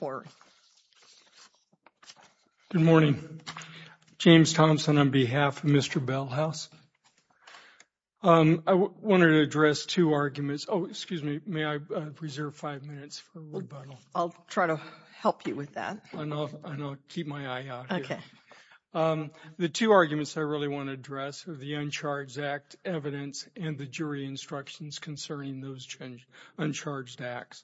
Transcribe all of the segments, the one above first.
Good morning. James Thompson, on behalf of Mr. Bellhouse, I wanted to address two arguments. Oh, excuse me. May I preserve five minutes for rebuttal? I'll try to help you with that. I'll keep my eye out. Okay. The two arguments I really want to address are the Uncharged Act evidence and the jury instructions concerning those Uncharged Acts.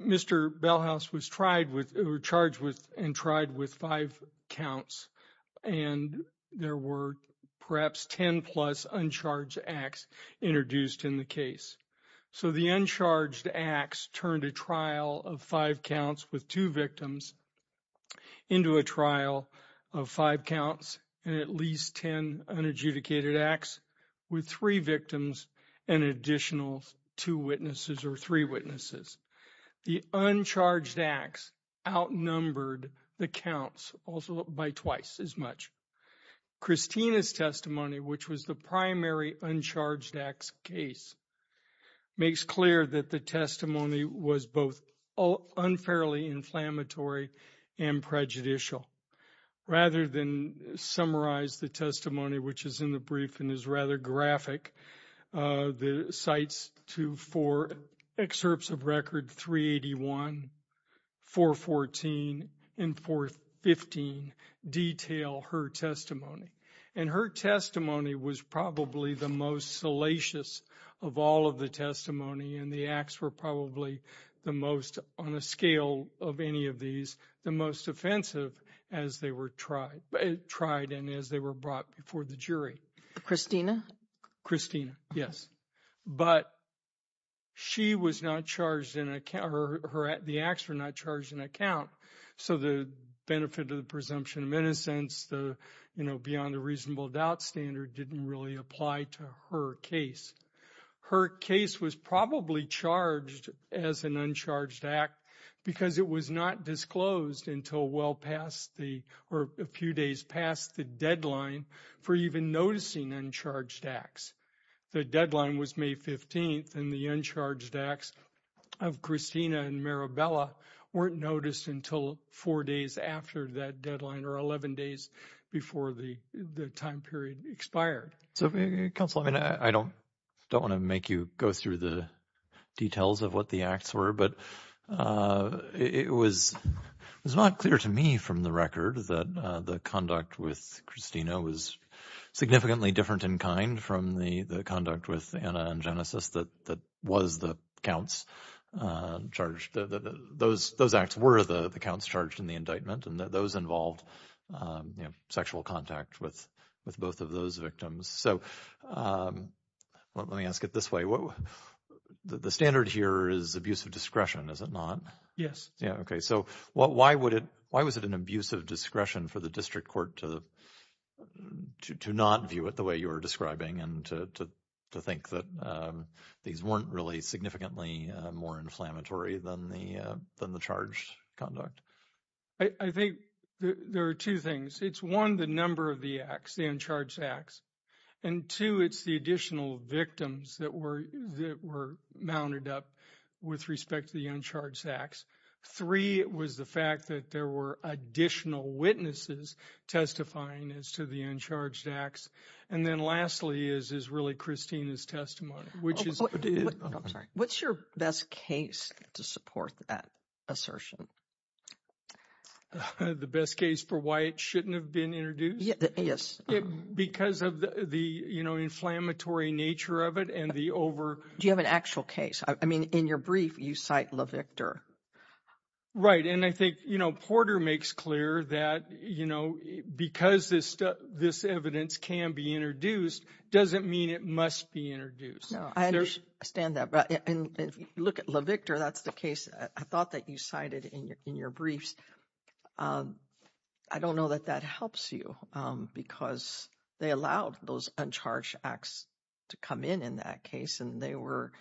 Mr. Bellhouse was charged with and tried with five counts, and there were perhaps 10-plus Uncharged Acts introduced in the case. So the Uncharged Acts turned a trial of five counts with two victims into a trial of five and at least 10 unadjudicated acts with three victims and additional two witnesses or three witnesses. The Uncharged Acts outnumbered the counts also by twice as much. Christina's testimony, which was the primary Uncharged Acts case, makes clear that the testimony was both unfairly inflammatory and prejudicial. Rather than summarize the testimony, which is in the brief and is rather graphic, the cites to four excerpts of record 381, 414, and 415 detail her testimony. And her testimony was probably the most salacious of all of the testimony and the acts were probably the most, on a scale of any of these, the most offensive as they were tried and as they were brought before the jury. Christina? Christina, yes. But the acts were not charged in a count, so the benefit of the presumption of innocence, beyond the reasonable doubt standard, didn't really apply to her case. Her case was probably charged as an Uncharged Act because it was not disclosed until well past the, or a few days past the deadline for even noticing Uncharged Acts. The deadline was May 15th and the Uncharged Acts of Christina and Maribela weren't noticed until four days after that deadline or 11 days before the time period expired. So counsel, I mean, I don't want to make you go through the details of what the acts were, but it was not clear to me from the record that the conduct with Christina was significantly different in kind from the conduct with Anna and Genesis that was the counts charged. Those acts were the counts charged in the indictment and those involved sexual contact with both of those victims. So let me ask it this way. The standard here is abuse of discretion, is it not? Yes. Yeah, okay. So why would it, why was it an abuse of discretion for the district court to not view it the way you are describing and to think that these weren't really significantly more inflammatory than the charged conduct? I think there are two things. It's one, the number of the acts, the Uncharged Acts. And two, it's the additional victims that were mounted up with respect to the Uncharged Acts. Three, it was the fact that there were additional witnesses testifying as to the Uncharged Acts. And then lastly is really Christina's testimony, which is... Oh, I'm sorry. What's your best case to support that assertion? The best case for why it shouldn't have been introduced? Yes. Because of the, you know, inflammatory nature of it and the over... Do you have an actual case? I mean, in your brief, you cite LaVictor. Right. And I think, you know, Porter makes clear that, you know, because this evidence can be introduced, doesn't mean it must be introduced. No, I understand that. But if you look at LaVictor, that's the case I thought that you cited in your briefs. I don't know that that helps you because they allowed those Uncharged Acts to come in, in that case, and they were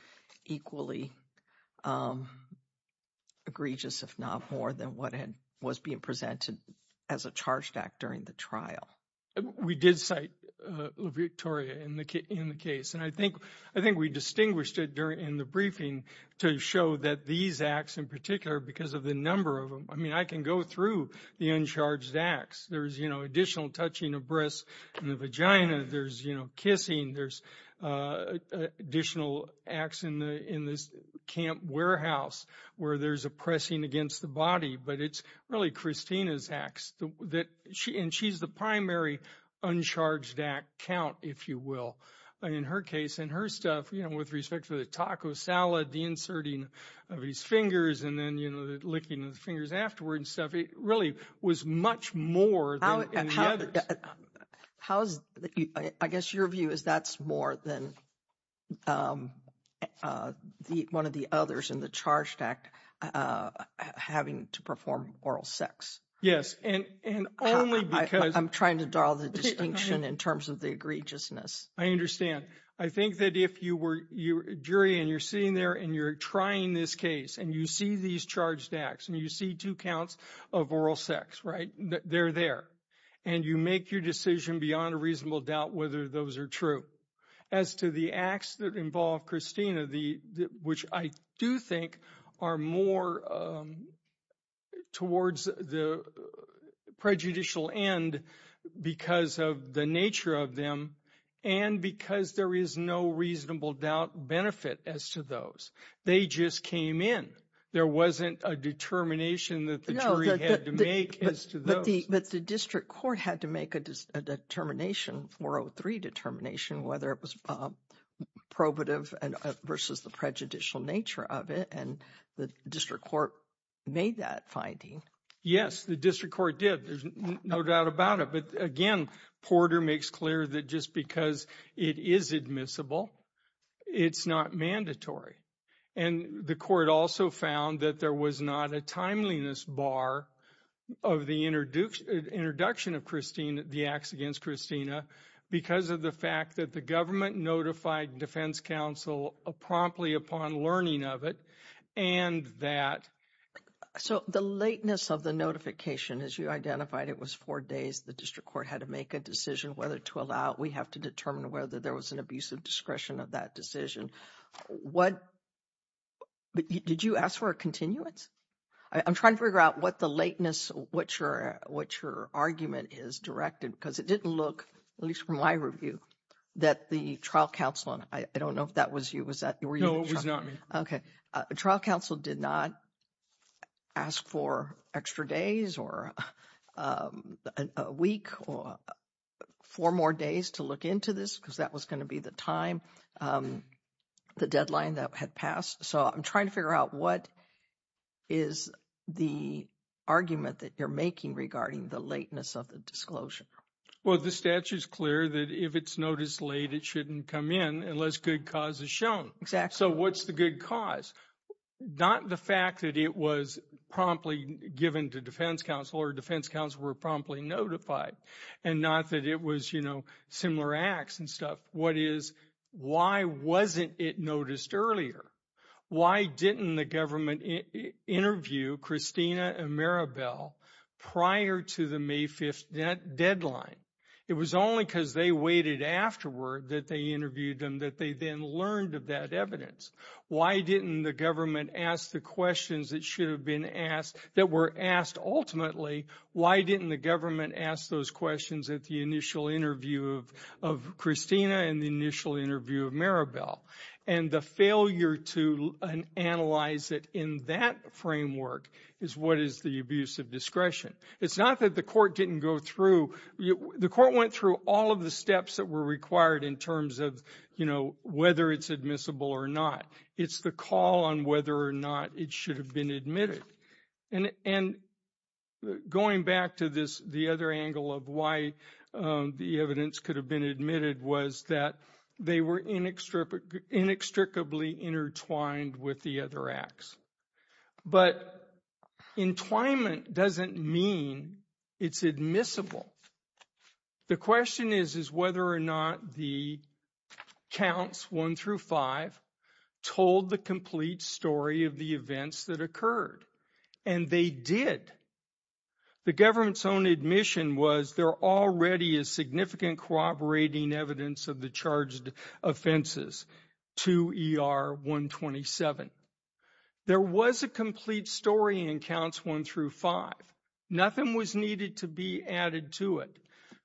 equally egregious, if not more than what was being presented as a charged act during the trial. We did cite LaVictoria in the case. And I think we distinguished it in the briefing to show that these acts in particular, because of the number of them, I mean, I can go through the Uncharged Acts. There's, you know, additional touching of breasts in the vagina. There's, you know, there's a pressing against the body, but it's really Christina's acts that... And she's the primary Uncharged Act count, if you will, in her case. And her stuff, you know, with respect to the taco salad, the inserting of his fingers, and then, you know, the licking of the fingers afterwards and stuff, it really was much more than the others. I guess your view is that's more than one of the others in the charged act having to perform oral sex. Yes. And only because... I'm trying to draw the distinction in terms of the egregiousness. I understand. I think that if you were a jury and you're sitting there and you're trying this case and you see these charged acts and you see two counts of oral sex, right? They're there. And you make your decision beyond a reasonable doubt whether those are true. As to the acts that involve Christina, which I do think are more towards the prejudicial end because of the nature of them and because there is no reasonable doubt benefit as to those. They just came in. There wasn't a determination that the jury had to make as to those. But the district court had to make a determination, 403 determination, whether it was probative versus the prejudicial nature of it. And the district court made that finding. Yes, the district court did. There's no doubt about it. But again, Porter makes clear that just because it is admissible, it's not mandatory. And the court also found that there was not a timeliness bar of the introduction of Christine, the acts against Christina, because of the fact that the government notified defense counsel promptly upon learning of it and that. So the lateness of the notification, as you identified, it was four days. The district court had to make a decision whether to allow it. We have to determine whether there was an discretion of that decision. What? Did you ask for a continuance? I'm trying to figure out what the lateness, what your what your argument is directed, because it didn't look, at least from my review, that the trial counsel, and I don't know if that was you, was that you? No, it was not me. Okay. Trial counsel did not ask for extra days or a week or four more days to look into this because that was going to be the time, the deadline that had passed. So I'm trying to figure out what is the argument that you're making regarding the lateness of the disclosure? Well, the statute is clear that if it's noticed late, it shouldn't come in unless good cause is shown. Exactly. So what's the good cause? Not the fact that it was promptly given to defense counsel or defense counsel were promptly notified and not that it was, you know, similar acts and stuff. What is, why wasn't it noticed earlier? Why didn't the government interview Christina and Maribel prior to the May 5th deadline? It was only because they waited afterward that they interviewed them that they then learned of that evidence. Why didn't the government ask the questions that should have been asked, that were asked ultimately, why didn't the government ask those questions at the initial interview of Christina and the initial interview of Maribel? And the failure to analyze it in that framework is what is the abuse of discretion. It's not that the court didn't go through, the court went through all of the steps that were required in terms of, you know, whether it's admissible or not. It's the call on whether or not it should have been admitted. And going back to this, the other angle of why the evidence could have been admitted was that they were inextricably intertwined with the other acts. But entwinement doesn't mean it's admissible. The question is, is whether or not the counts one through five told the complete story of the events that occurred. And they did. The government's own admission was there already is significant corroborating evidence of the charged offenses to ER 127. There was a story in counts one through five. Nothing was needed to be added to it.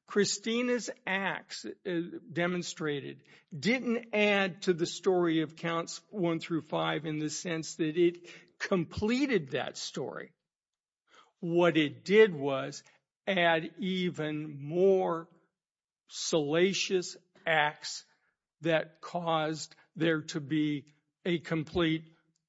Christina's acts demonstrated, didn't add to the story of counts one through five in the sense that it completed that story. What it did was add even more salacious acts that caused there to be a complete,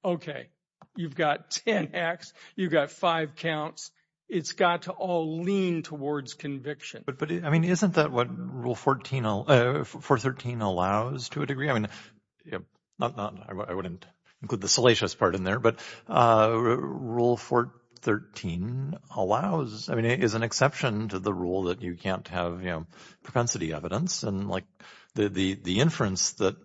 okay, you've got 10 acts, you've got five counts. It's got to all lean towards conviction. But, I mean, isn't that what Rule 413 allows to a degree? I mean, I wouldn't include the salacious part in there, but Rule 413 allows, I mean, is an exception to the rule that you can't have propensity evidence. And like the inference that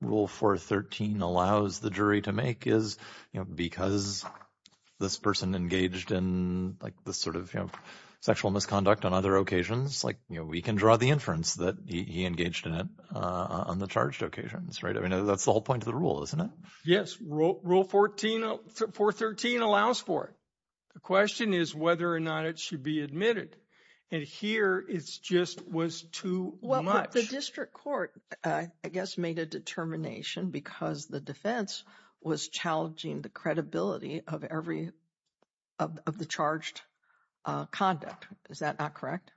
Rule 413 allows the jury to make is, you know, because this person engaged in like the sort of, you know, sexual misconduct on other occasions, like, you know, we can draw the inference that he engaged in it on the charged occasions, right? I mean, that's the whole point of the rule, isn't it? Yes. Rule 413 allows for it. The question is whether or not it should be admitted. And here it's just was too much. Well, the district court, I guess, made a determination because the defense was challenging the credibility of the charged conduct. Is that not correct?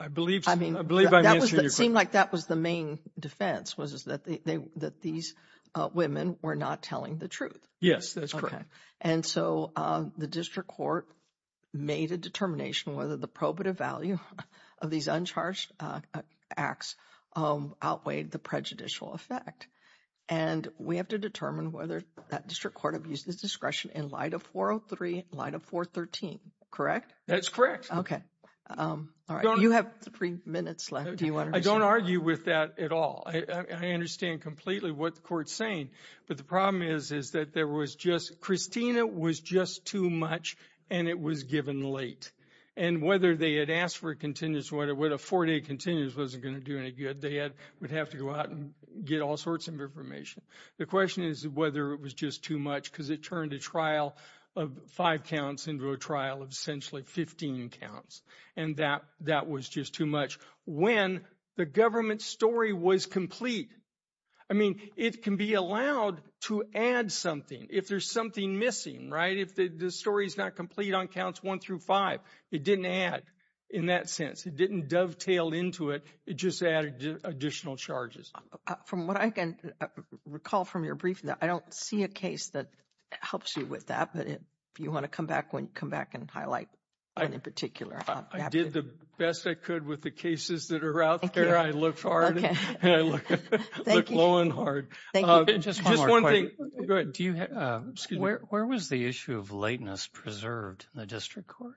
I believe I'm answering your question. It seemed like that was the main defense was that these women were not telling the truth. Yes, that's correct. Okay. And so the district court made a determination whether the probative value of these uncharged acts outweighed the prejudicial effect. And we have to determine whether that district court abused his discretion in light of 403, in light of 413, correct? That's correct. Okay. All right. You have three minutes left. Do you want to- I don't argue with that at all. I understand completely what the court's saying, but the problem is, is that there was just, Christina was just too much and it was given late. And whether they had asked for a contingency, whether a four-day contingency wasn't going to do any good, they would have to go out and get all sorts of information. The question is whether it was just too much because it turned a trial of five counts into a trial of essentially 15 counts. And that was just too much when the government story was complete. I mean, it can be allowed to add something if there's something missing, right? If the story's not complete on counts one through five, it didn't add in that sense. It didn't dovetail into it. It just added additional charges. From what I can recall from your briefing, I don't see a case that helps you with that. But if you want to come back and highlight one in particular. I did the best I could with the cases that are out there. I looked hard and I look low and hard. Thank you. Just one thing. Go ahead. Where was the issue of lateness preserved in the district court?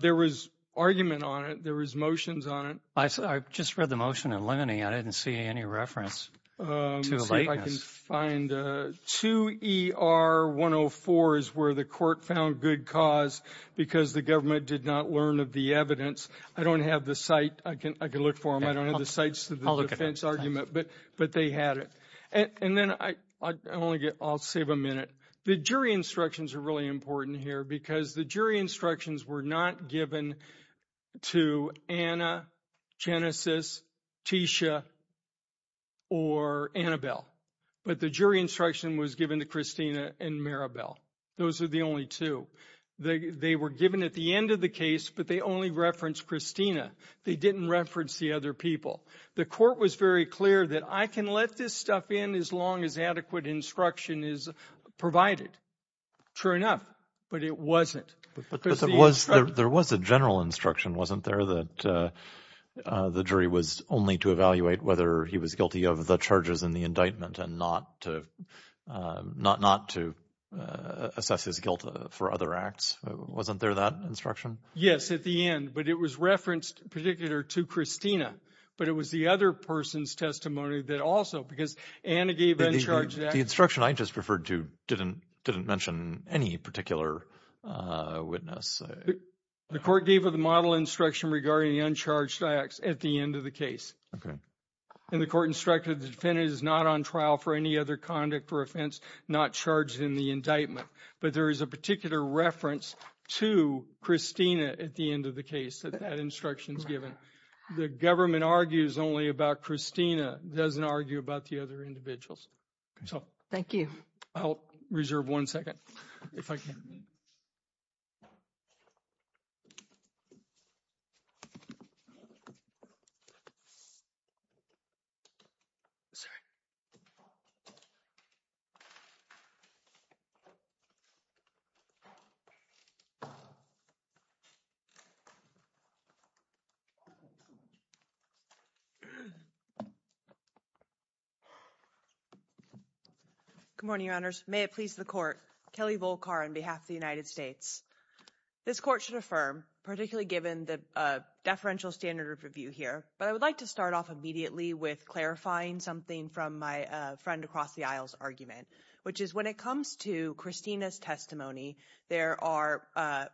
There was argument on it. There was motions on it. I just read the motion in limine. I didn't see any reference to lateness. I can find 2ER104 is where the court found good cause because the government did not learn of the evidence. I don't have the site. I can look for them. I don't have the sites to the defense argument, but they had it. And then I'll save a minute. The jury instructions are really important here because the jury instructions were not given to Anna, Genesis, Tisha, or Annabelle. But the jury instruction was given to Christina and Maribel. Those are the only two. They were given at the end of the case, but they only referenced Christina. They didn't reference the other people. The court was very clear that I can let this stuff in as long as adequate instruction is provided. True enough, but it wasn't. But there was a general instruction, wasn't there, that the jury was only to evaluate whether he was guilty of the charges in the indictment and not to assess his guilt for other acts. Wasn't there that instruction? Yes, at the end, but it was referenced particular to Christina, but it was the other person's testimony that also, because Anna gave that charge. The instruction I just referred to didn't mention any particular witness. The court gave a model instruction regarding the uncharged acts at the end of the case. Okay. And the court instructed the defendant is not on trial for any other conduct or offense, not charged in the indictment. But there is a particular reference to Christina at the end of the case that that instruction is given. The government argues only about Christina, doesn't argue about the other individuals. So. Thank you. I'll reserve one second if I can. Good morning, Your Honors. May it please the court. Kelly Volkar on behalf of the United States. This court should affirm, particularly given the deferential standard of review here, but I would like to start off immediately with clarifying something from my friend across the aisle's argument, which is when it comes to Christina's testimony, there are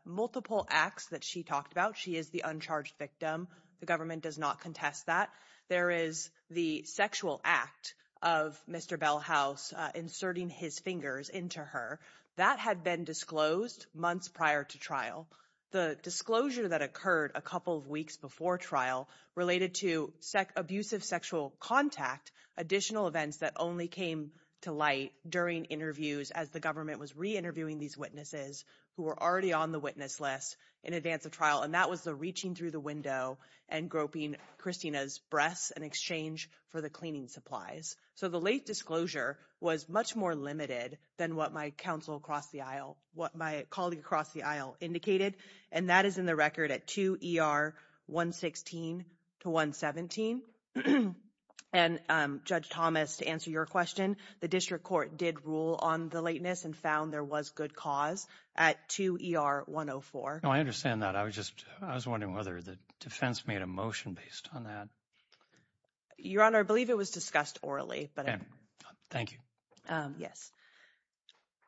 multiple acts that she talked about. She is the uncharged victim. The government does not contest that. There is the sexual act of Mr. Bellhouse inserting his fingers into her that had been disclosed months prior to trial. The disclosure that occurred a couple of weeks before trial related to sex, abusive sexual contact, additional events that only came to light during interviews as the government was reinterviewing these witnesses who were already on the witness list in advance of trial. And that was the reaching through the window and groping Christina's breasts in exchange for the cleaning supplies. So the late disclosure was much more limited than what my counsel across the aisle, what my colleague across the aisle indicated. And that is in the record at 2 ER 116 to 117. And Judge Thomas, to answer your question, the district court did rule on the lateness and found there was good cause at 2 ER 104. No, I understand that. I was just I was wondering whether the defense made a motion based on that. Your Honor, I believe it was discussed orally, but thank you. Yes.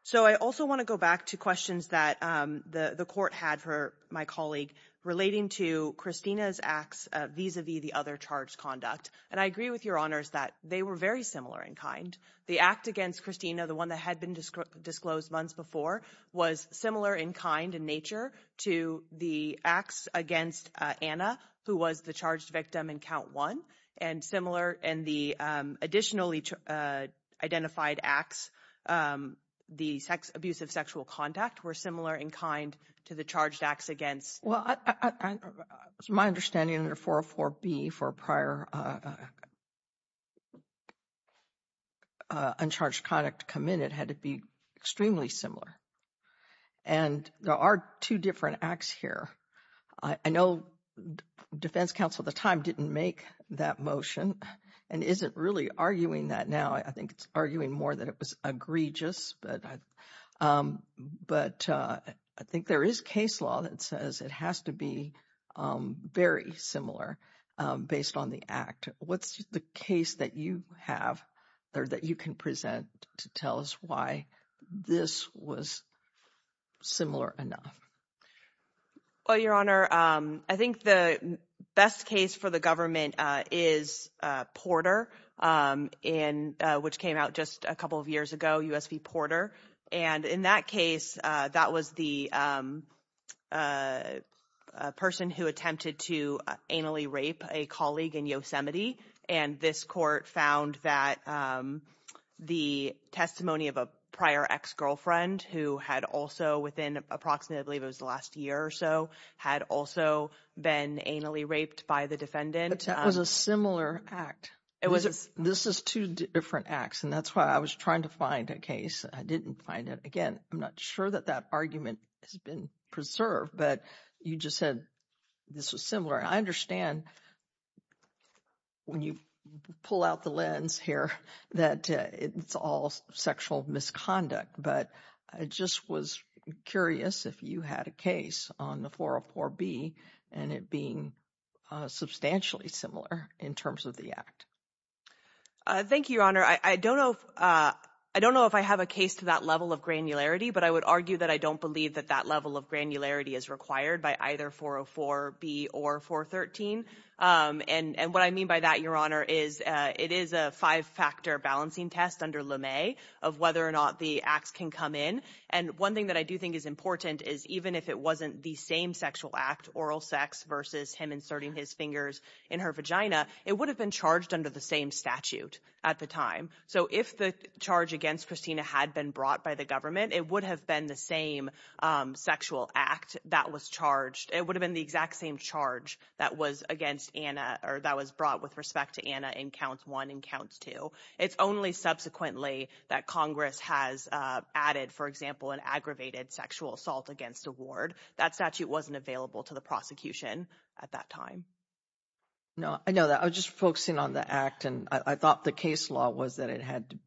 So I also want to go back to questions that the court had for my colleague relating to Christina's acts vis-a-vis the other charged conduct. And I agree with your honors that they were very similar in kind. The act against Christina, the one that had been disclosed months before, was similar in kind and nature to the acts against Anna, who was the charged victim in count one and similar. And the additionally identified acts, the sex abuse of sexual conduct were similar in kind to the charged acts against. Well, it's my understanding under 404 B for prior uncharged conduct committed had to be extremely similar. And there are two different acts here. I know the defense counsel at the time didn't make that motion and isn't really arguing that now. I think it's arguing more than it was egregious. But but I think there is case law that says it has to be very similar based on the act. What's the case that you have there that you can present to tell us why this was similar enough? Well, your honor, I think the best case for the government is Porter in which came out just a couple of years ago, USB Porter. And in that case, that was the person who attempted to anally rape a colleague in Yosemite. And this court found that the testimony of a prior ex-girlfriend who had also within approximately the last year or so had also been anally raped by the defendant was a similar act. It was this is two different acts. And that's why I was trying to find a case. I didn't find it. Again, I'm not sure that that argument has been preserved, but you just said this was similar. I understand when you pull out the lens here that it's all sexual misconduct. But I just was curious if you had a case on the 404 B and it being substantially similar in terms of the act. Thank you, your honor. I don't know. I don't know if I have a case to that level of granularity, but I would argue that I don't believe that that level of granularity is required by either 404 B or 413. And what I mean by that, your honor, is it is a five factor balancing test under LeMay of whether or not the acts can come in. And one thing that I do think is important is even if it wasn't the same sexual act, oral sex versus him inserting his fingers in her vagina, it would have been charged under the same statute at the time. So if the charge against Christina had been brought by the government, it would have been the same sexual act that was charged. It would have been the exact same charge that was against Anna or that was brought with respect to Anna in counts one and counts two. It's only subsequently that Congress has added, for example, an aggravated sexual assault against a ward. That statute wasn't available to the prosecution at that time. No, I know that I was just focusing on the act and I thought the case law was that it had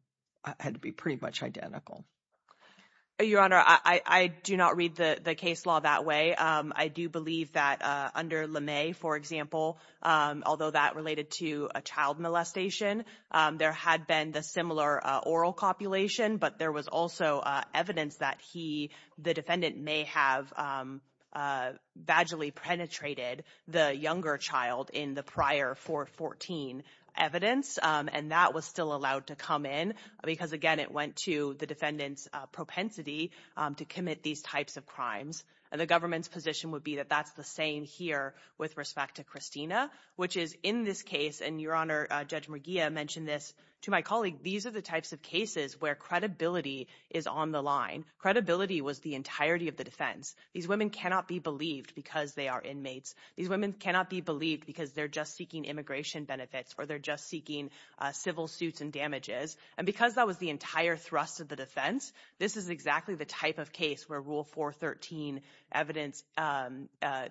had to be pretty much identical. Your honor, I do not read the case law that way. I do believe that under LeMay, for example, although that related to a child molestation, there had been the similar oral copulation, but there was also evidence that he, the defendant, may have vaguely penetrated the younger child in the prior 414 evidence. And that was still allowed to come in because, again, it went to the defendant's propensity to commit these types of crimes. And the government's position would be that that's the same here with respect to Christina, which is in this case. And your honor, Judge McGee mentioned this to my colleague. These are the types of cases where credibility is on the line. Credibility was the entirety of the defense. These women cannot be believed because they are inmates. These women cannot be believed because they're just seeking immigration benefits or they're just seeking civil suits and damages. And because that was the entire thrust of the defense, this is exactly the type of case where Rule 413 evidence,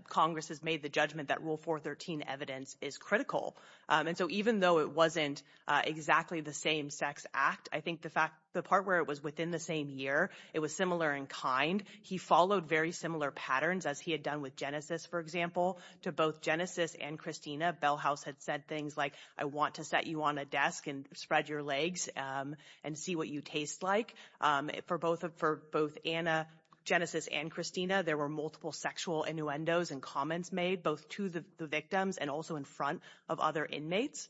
Congress has made the judgment that Rule 413 evidence is critical. And so even though it wasn't exactly the same sex act, I think the part where it was within the same year, it was similar in kind. He followed very similar patterns as he had done with Genesis, for example, to both Genesis and Christina. Bell House had said things like, I want to set you on a desk and spread your legs and see what you taste like. For both Anna, Genesis, and Christina, there were multiple sexual innuendos and comments made both to the victims and also in front of other inmates.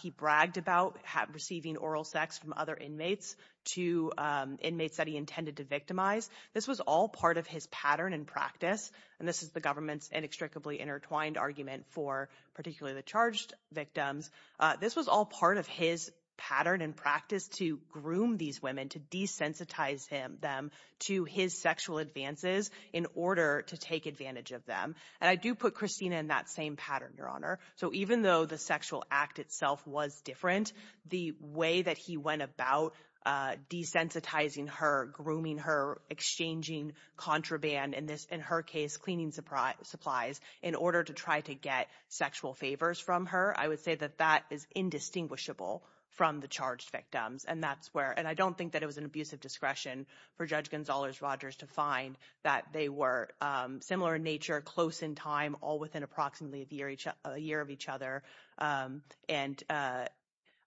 He bragged about receiving oral sex from other inmates to inmates that he intended to victimize. This was all part of his pattern and practice. And this is the government's inextricably intertwined argument for particularly the charged victims. This was all part of his pattern and practice to groom these women, to desensitize them to his sexual advances in order to take advantage of them. And I do put Christina in that same pattern, Your Honor. So even though the sexual act itself was different, the way that he went about desensitizing her, grooming her, exchanging contraband, in her case cleaning supplies, in order to try to get sexual favors from her, I would say that that is indistinguishable from the charged victims. And that's where, and I don't think that it was an abuse of discretion for Judge Gonzalez-Rogers to find that they were similar in nature, close in time, all within approximately a year of each other, and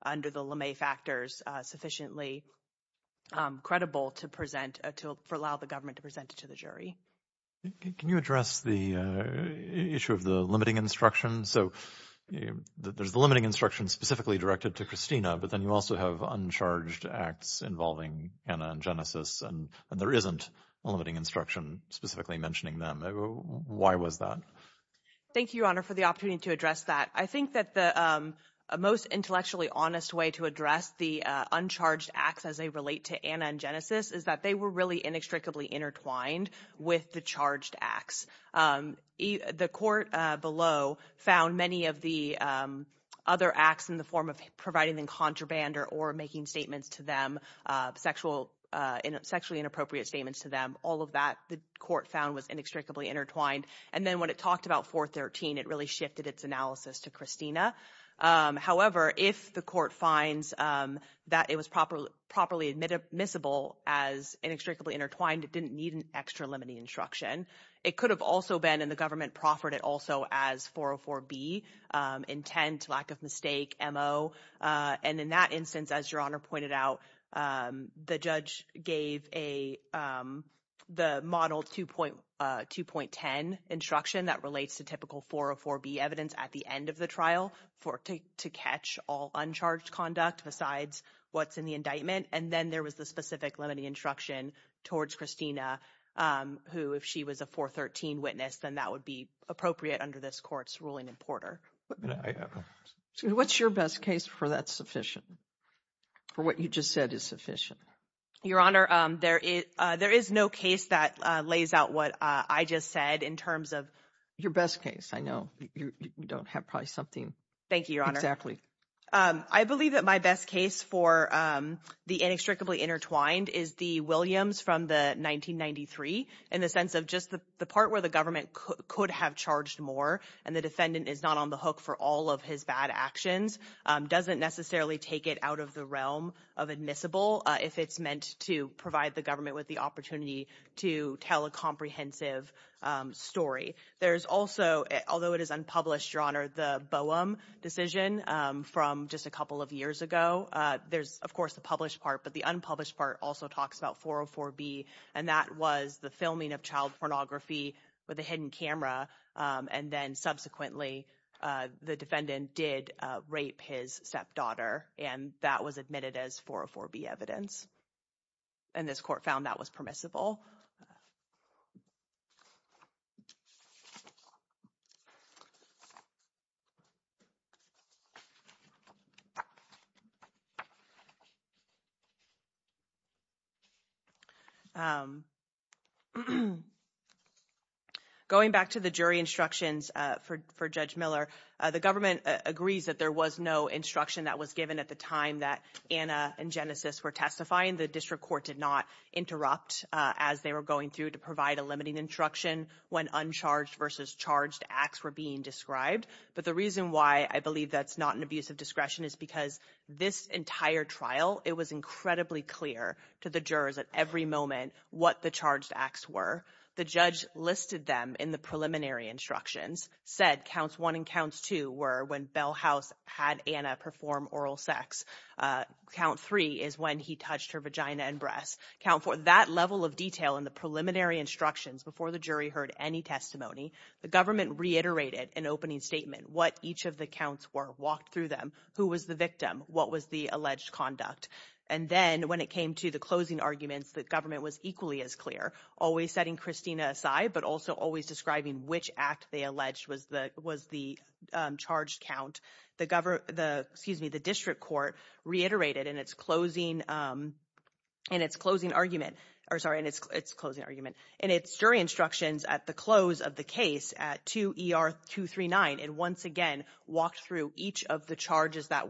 under the LeMay factors sufficiently credible to present, to allow the government to present it to the jury. Can you address the issue of the limiting instruction? So there's the limiting instruction specifically directed to Christina, but then you also have uncharged acts involving Hannah and Genesis, and there isn't a limiting instruction specifically mentioning them. Why was that? Thank you, Your Honor, for the opportunity to address that. I think that the most intellectually honest way to address the uncharged acts as they relate to Hannah and Genesis is that they were really inextricably intertwined with the charged acts. The court below found many of the other acts in the form of providing them contraband or making statements to them, sexually inappropriate statements to them, all of that the court found was inextricably intertwined. And then when it talked about 413, it really shifted its analysis to Christina. However, if the court finds that it was properly admissible as inextricably intertwined, it didn't need an extra limiting instruction. It could have also been, and the government proffered it also as 404B, intent, lack of mistake, MO. And in that instance, as Your Honor pointed out, the judge gave the model 2.10 instruction that relates to typical 404B evidence at the end of the trial to catch all uncharged conduct besides what's in the indictment. And then there was the specific limiting instruction towards Christina, who if she was a 413 witness, then that would be appropriate under this court's ruling in Porter. What's your best case for that sufficient, for what you just said is sufficient? Your Honor, there is no case that lays out what I just said in terms of— Your best case. I know you don't have probably something. Thank you, Your Honor. I believe that my best case for the inextricably intertwined is the Williams from the 1993, in the sense of just the part where the government could have charged more and the defendant is not on the hook for all of his bad actions, doesn't necessarily take it out of the realm of admissible if it's meant to provide the government with the opportunity to tell a comprehensive story. There's also, although it is unpublished, Your Honor, the Boehm decision from just a couple of years ago. There's, of course, the published part, but the unpublished part also talks about 404B, and that was the filming of child pornography with a hidden camera. And then subsequently, the defendant did rape his stepdaughter, and that was admitted as 404B evidence. And this court found that was permissible. Thank you, Your Honor. Going back to the jury instructions for Judge Miller, the government agrees that there was no instruction that was given at the time that Anna and Genesis were testifying. The district court did not interrupt as they were going through to provide a limiting instruction when uncharged versus charged acts were being described. But the reason why I believe that's not an abuse of discretion is because this entire trial, it was incredibly clear to the jurors at every moment what the charged acts were. The judge listed them in the preliminary instructions, said counts one and counts two were when Bell House had Anna perform oral sex. Count three is when he touched her vagina and breasts. Count four, that level of detail in the preliminary instructions before the jury heard any testimony, the government reiterated an opening statement, what each of the counts were, walked through them, who was the victim, what was the alleged conduct. And then when it came to the closing arguments, the government was equally as clear, always setting Christina aside, but also always describing which act they alleged was the charged count. The district court reiterated in its closing argument, or sorry, in its closing argument, in its jury instructions at the close of the case at 2 ER 239, it once again walked through each of the counts that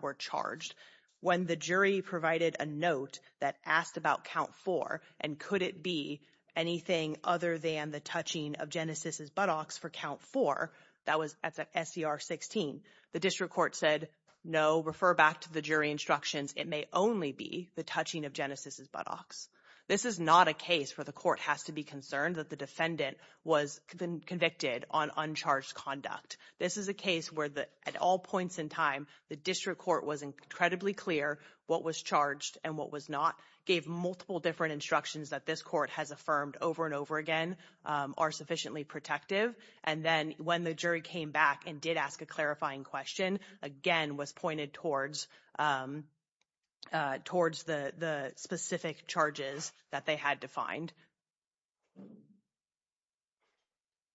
were charged. When the jury provided a note that asked about count four and could it be anything other than the touching of Genesis's buttocks for count four, that was at the SCR 16. The district court said, no, refer back to the jury instructions. It may only be the touching of Genesis's buttocks. This is not a case where the court has to be concerned that the defendant was convicted on uncharged conduct. This is a case where at all points in time, the district court was incredibly clear what was charged and what was not, gave multiple different instructions that this court has affirmed over and over again are sufficiently protective. And then when the jury came back and did ask a clarifying question, again, was pointed towards the specific charges that they had defined.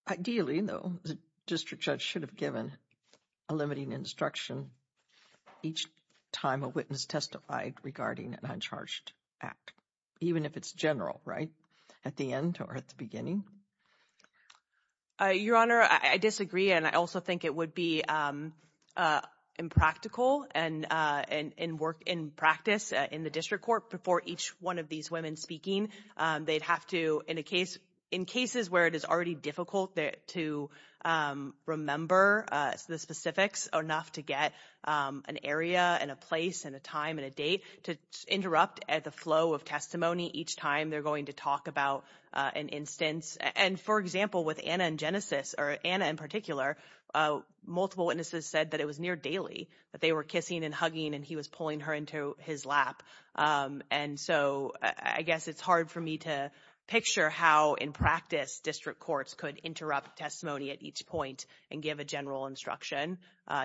Ideally, though, the district judge should have given a limiting instruction each time a witness testified regarding an uncharged act, even if it's general, right at the end or at the beginning. Your Honor, I disagree. And I also think it would be impractical and in work, in practice, in the district court before each one of these women speaking, they'd have to, in a case, in cases where it is already difficult to remember the specifics enough to get an area and a place and a time and a date to interrupt at the flow of testimony each time they're going to talk about an instance. And for example, with Anna and Genesis or Anna in particular, multiple witnesses said that it was near daily that they were kissing and hugging and he was pulling her into his lap. And so I guess it's hard for me to picture how, in practice, district courts could interrupt testimony at each point and give a general instruction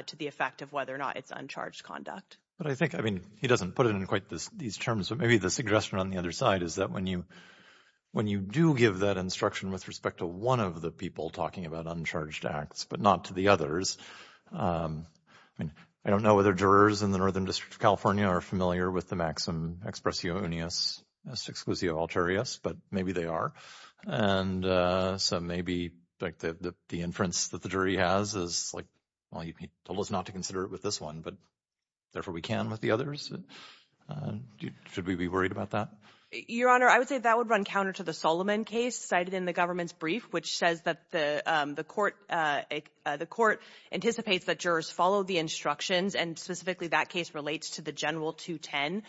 to the effect of whether or not it's uncharged conduct. But I think, I mean, he doesn't put it in quite these terms, but maybe the suggestion on the other side is that when you do give that instruction with respect to one of the people talking about uncharged acts, but not to the others, I mean, I don't know whether jurors in the Northern District of California are familiar with maxim expressio unius exclusio alterius, but maybe they are. And so maybe the inference that the jury has is like, well, you told us not to consider it with this one, but therefore we can with the others. Should we be worried about that? Your Honor, I would say that would run counter to the Solomon case cited in the government's brief, which says that the court anticipates that jurors follow the instructions, and specifically that case relates to the general 210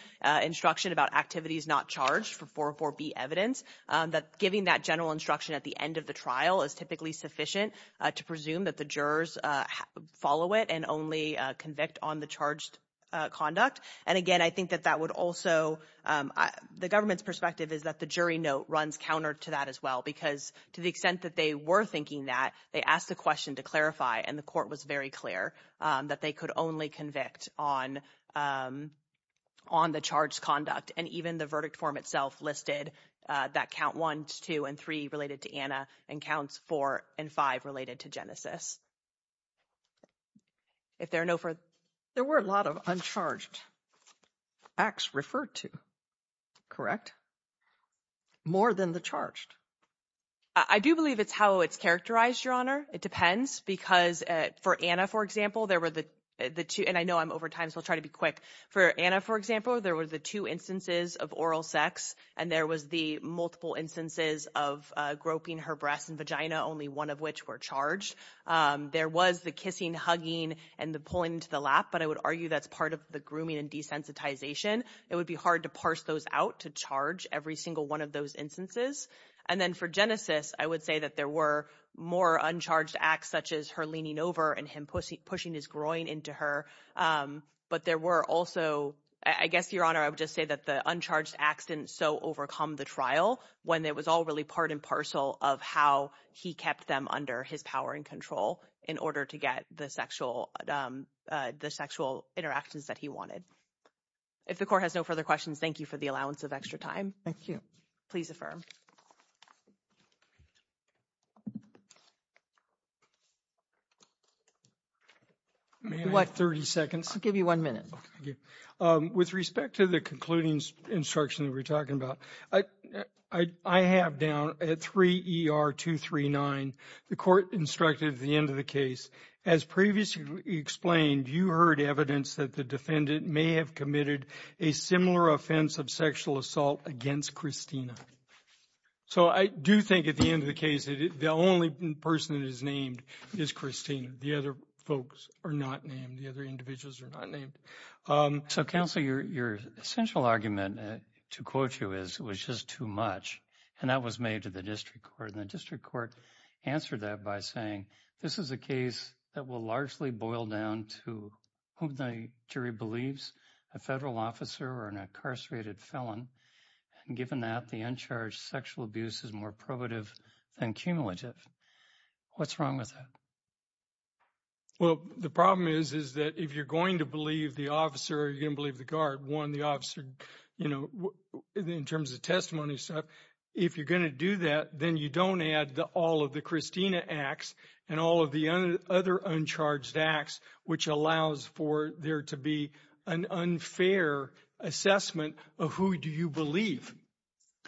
instruction about activities not charged for 404B evidence, that giving that general instruction at the end of the trial is typically sufficient to presume that the jurors follow it and only convict on the charged conduct. And again, I think that that would also, the government's perspective is that the jury note runs counter to that as well, because to the extent that they were thinking that, they asked the question to clarify, and the court was very clear that they could only convict on the charged conduct, and even the verdict form itself listed that count one, two, and three related to Anna, and counts four and five related to Genesis. If there are no further... There were a lot of uncharged acts referred to, correct? More than the charged. I do believe it's how it's characterized, Your Honor. It depends, because for Anna, for example, there were the two, and I know I'm over time, so I'll try to be quick. For Anna, for example, there were the two instances of oral sex, and there was the multiple instances of groping her breast and vagina, only one of which were charged. There was the kissing, hugging, and the pulling into the lap, but I would argue that's part of the grooming and desensitization. It would be hard to parse those out to charge every single one of those instances, and then for Genesis, I would say that there were more uncharged acts, such as her leaning over and him pushing his groin into her, but there were also... I guess, Your Honor, I would just say that the uncharged acts didn't so overcome the trial, when it was all really part and parcel of how he kept them under his power and control in order to get the sexual interactions that he wanted. If the court has further questions, thank you for the allowance of extra time. Thank you. Please affirm. May I have 30 seconds? I'll give you one minute. With respect to the concluding instruction that we're talking about, I have down at 3 ER 239, the court instructed at the end of the case, as previously explained, you heard evidence that the defendant may have committed a similar offense of sexual assault against Christina. So, I do think at the end of the case, the only person that is named is Christina. The other folks are not named. The other individuals are not named. So, counsel, your essential argument to quote you is, it was just too much, and that was made to the district court, and the district court answered that by saying, this is a case that will largely boil down to whom the jury believes, a federal officer or an incarcerated felon. And given that, the uncharged sexual abuse is more probative than cumulative. What's wrong with that? Well, the problem is, is that if you're going to believe the officer, you're going to believe the guard, one, the officer, you know, in terms of testimony, if you're going to do that, then you don't add all of the Christina acts and all of the other uncharged acts, which allows for there to be an unfair assessment of who do you believe?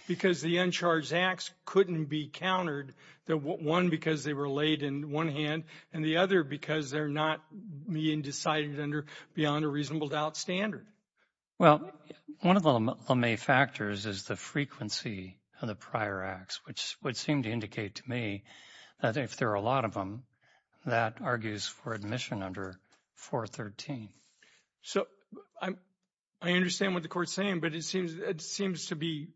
Because the uncharged acts couldn't be countered, one, because they were laid in one hand, and the other, because they're not being decided under beyond a reasonable doubt standard. Well, one of the factors is the frequency of the prior acts, which would seem to indicate to me that if there are a lot of them, that argues for admission under 413. So, I understand what the court's saying, but it seems to be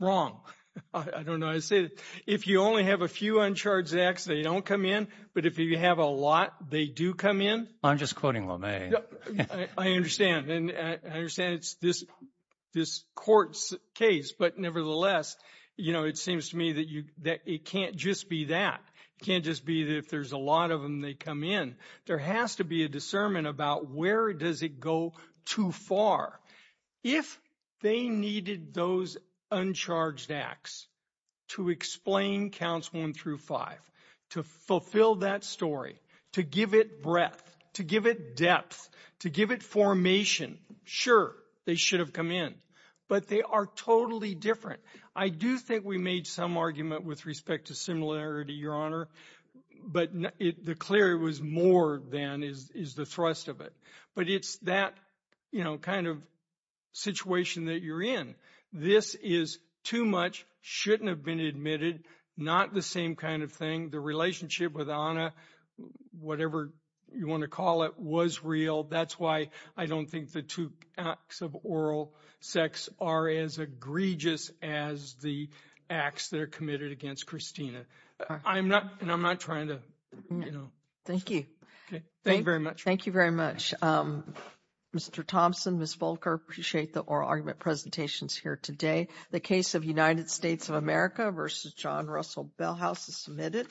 wrong. I don't know. I say, if you only have a few uncharged acts, they don't come in. But if you have a lot, they do come in. I'm just quoting them. I understand. And I understand it's this court's case, but nevertheless, it seems to me that it can't just be that. It can't just be that if there's a lot of them, they come in. There has to be a discernment about where does it go too far. If they needed those uncharged acts to explain counts one through five, to fulfill that story, to give it breadth, to give it depth, to give it formation, sure, they should have come in, but they are totally different. I do think we made some argument with respect to similarity, Your Honor, but the clear was more than is the thrust of it. But it's that kind of situation that you're in. This is too much, shouldn't have been admitted, not the same kind of thing. The relationship with Anna, whatever you want to call it, was real. That's why I don't think the two acts of oral sex are as egregious as the acts that are committed against Christina. I'm not trying to... Thank you. Thank you very much. Mr. Thompson, Ms. Volker, appreciate the oral argument presentations here today. The case of United States of America versus John Russell Bell House is submitted.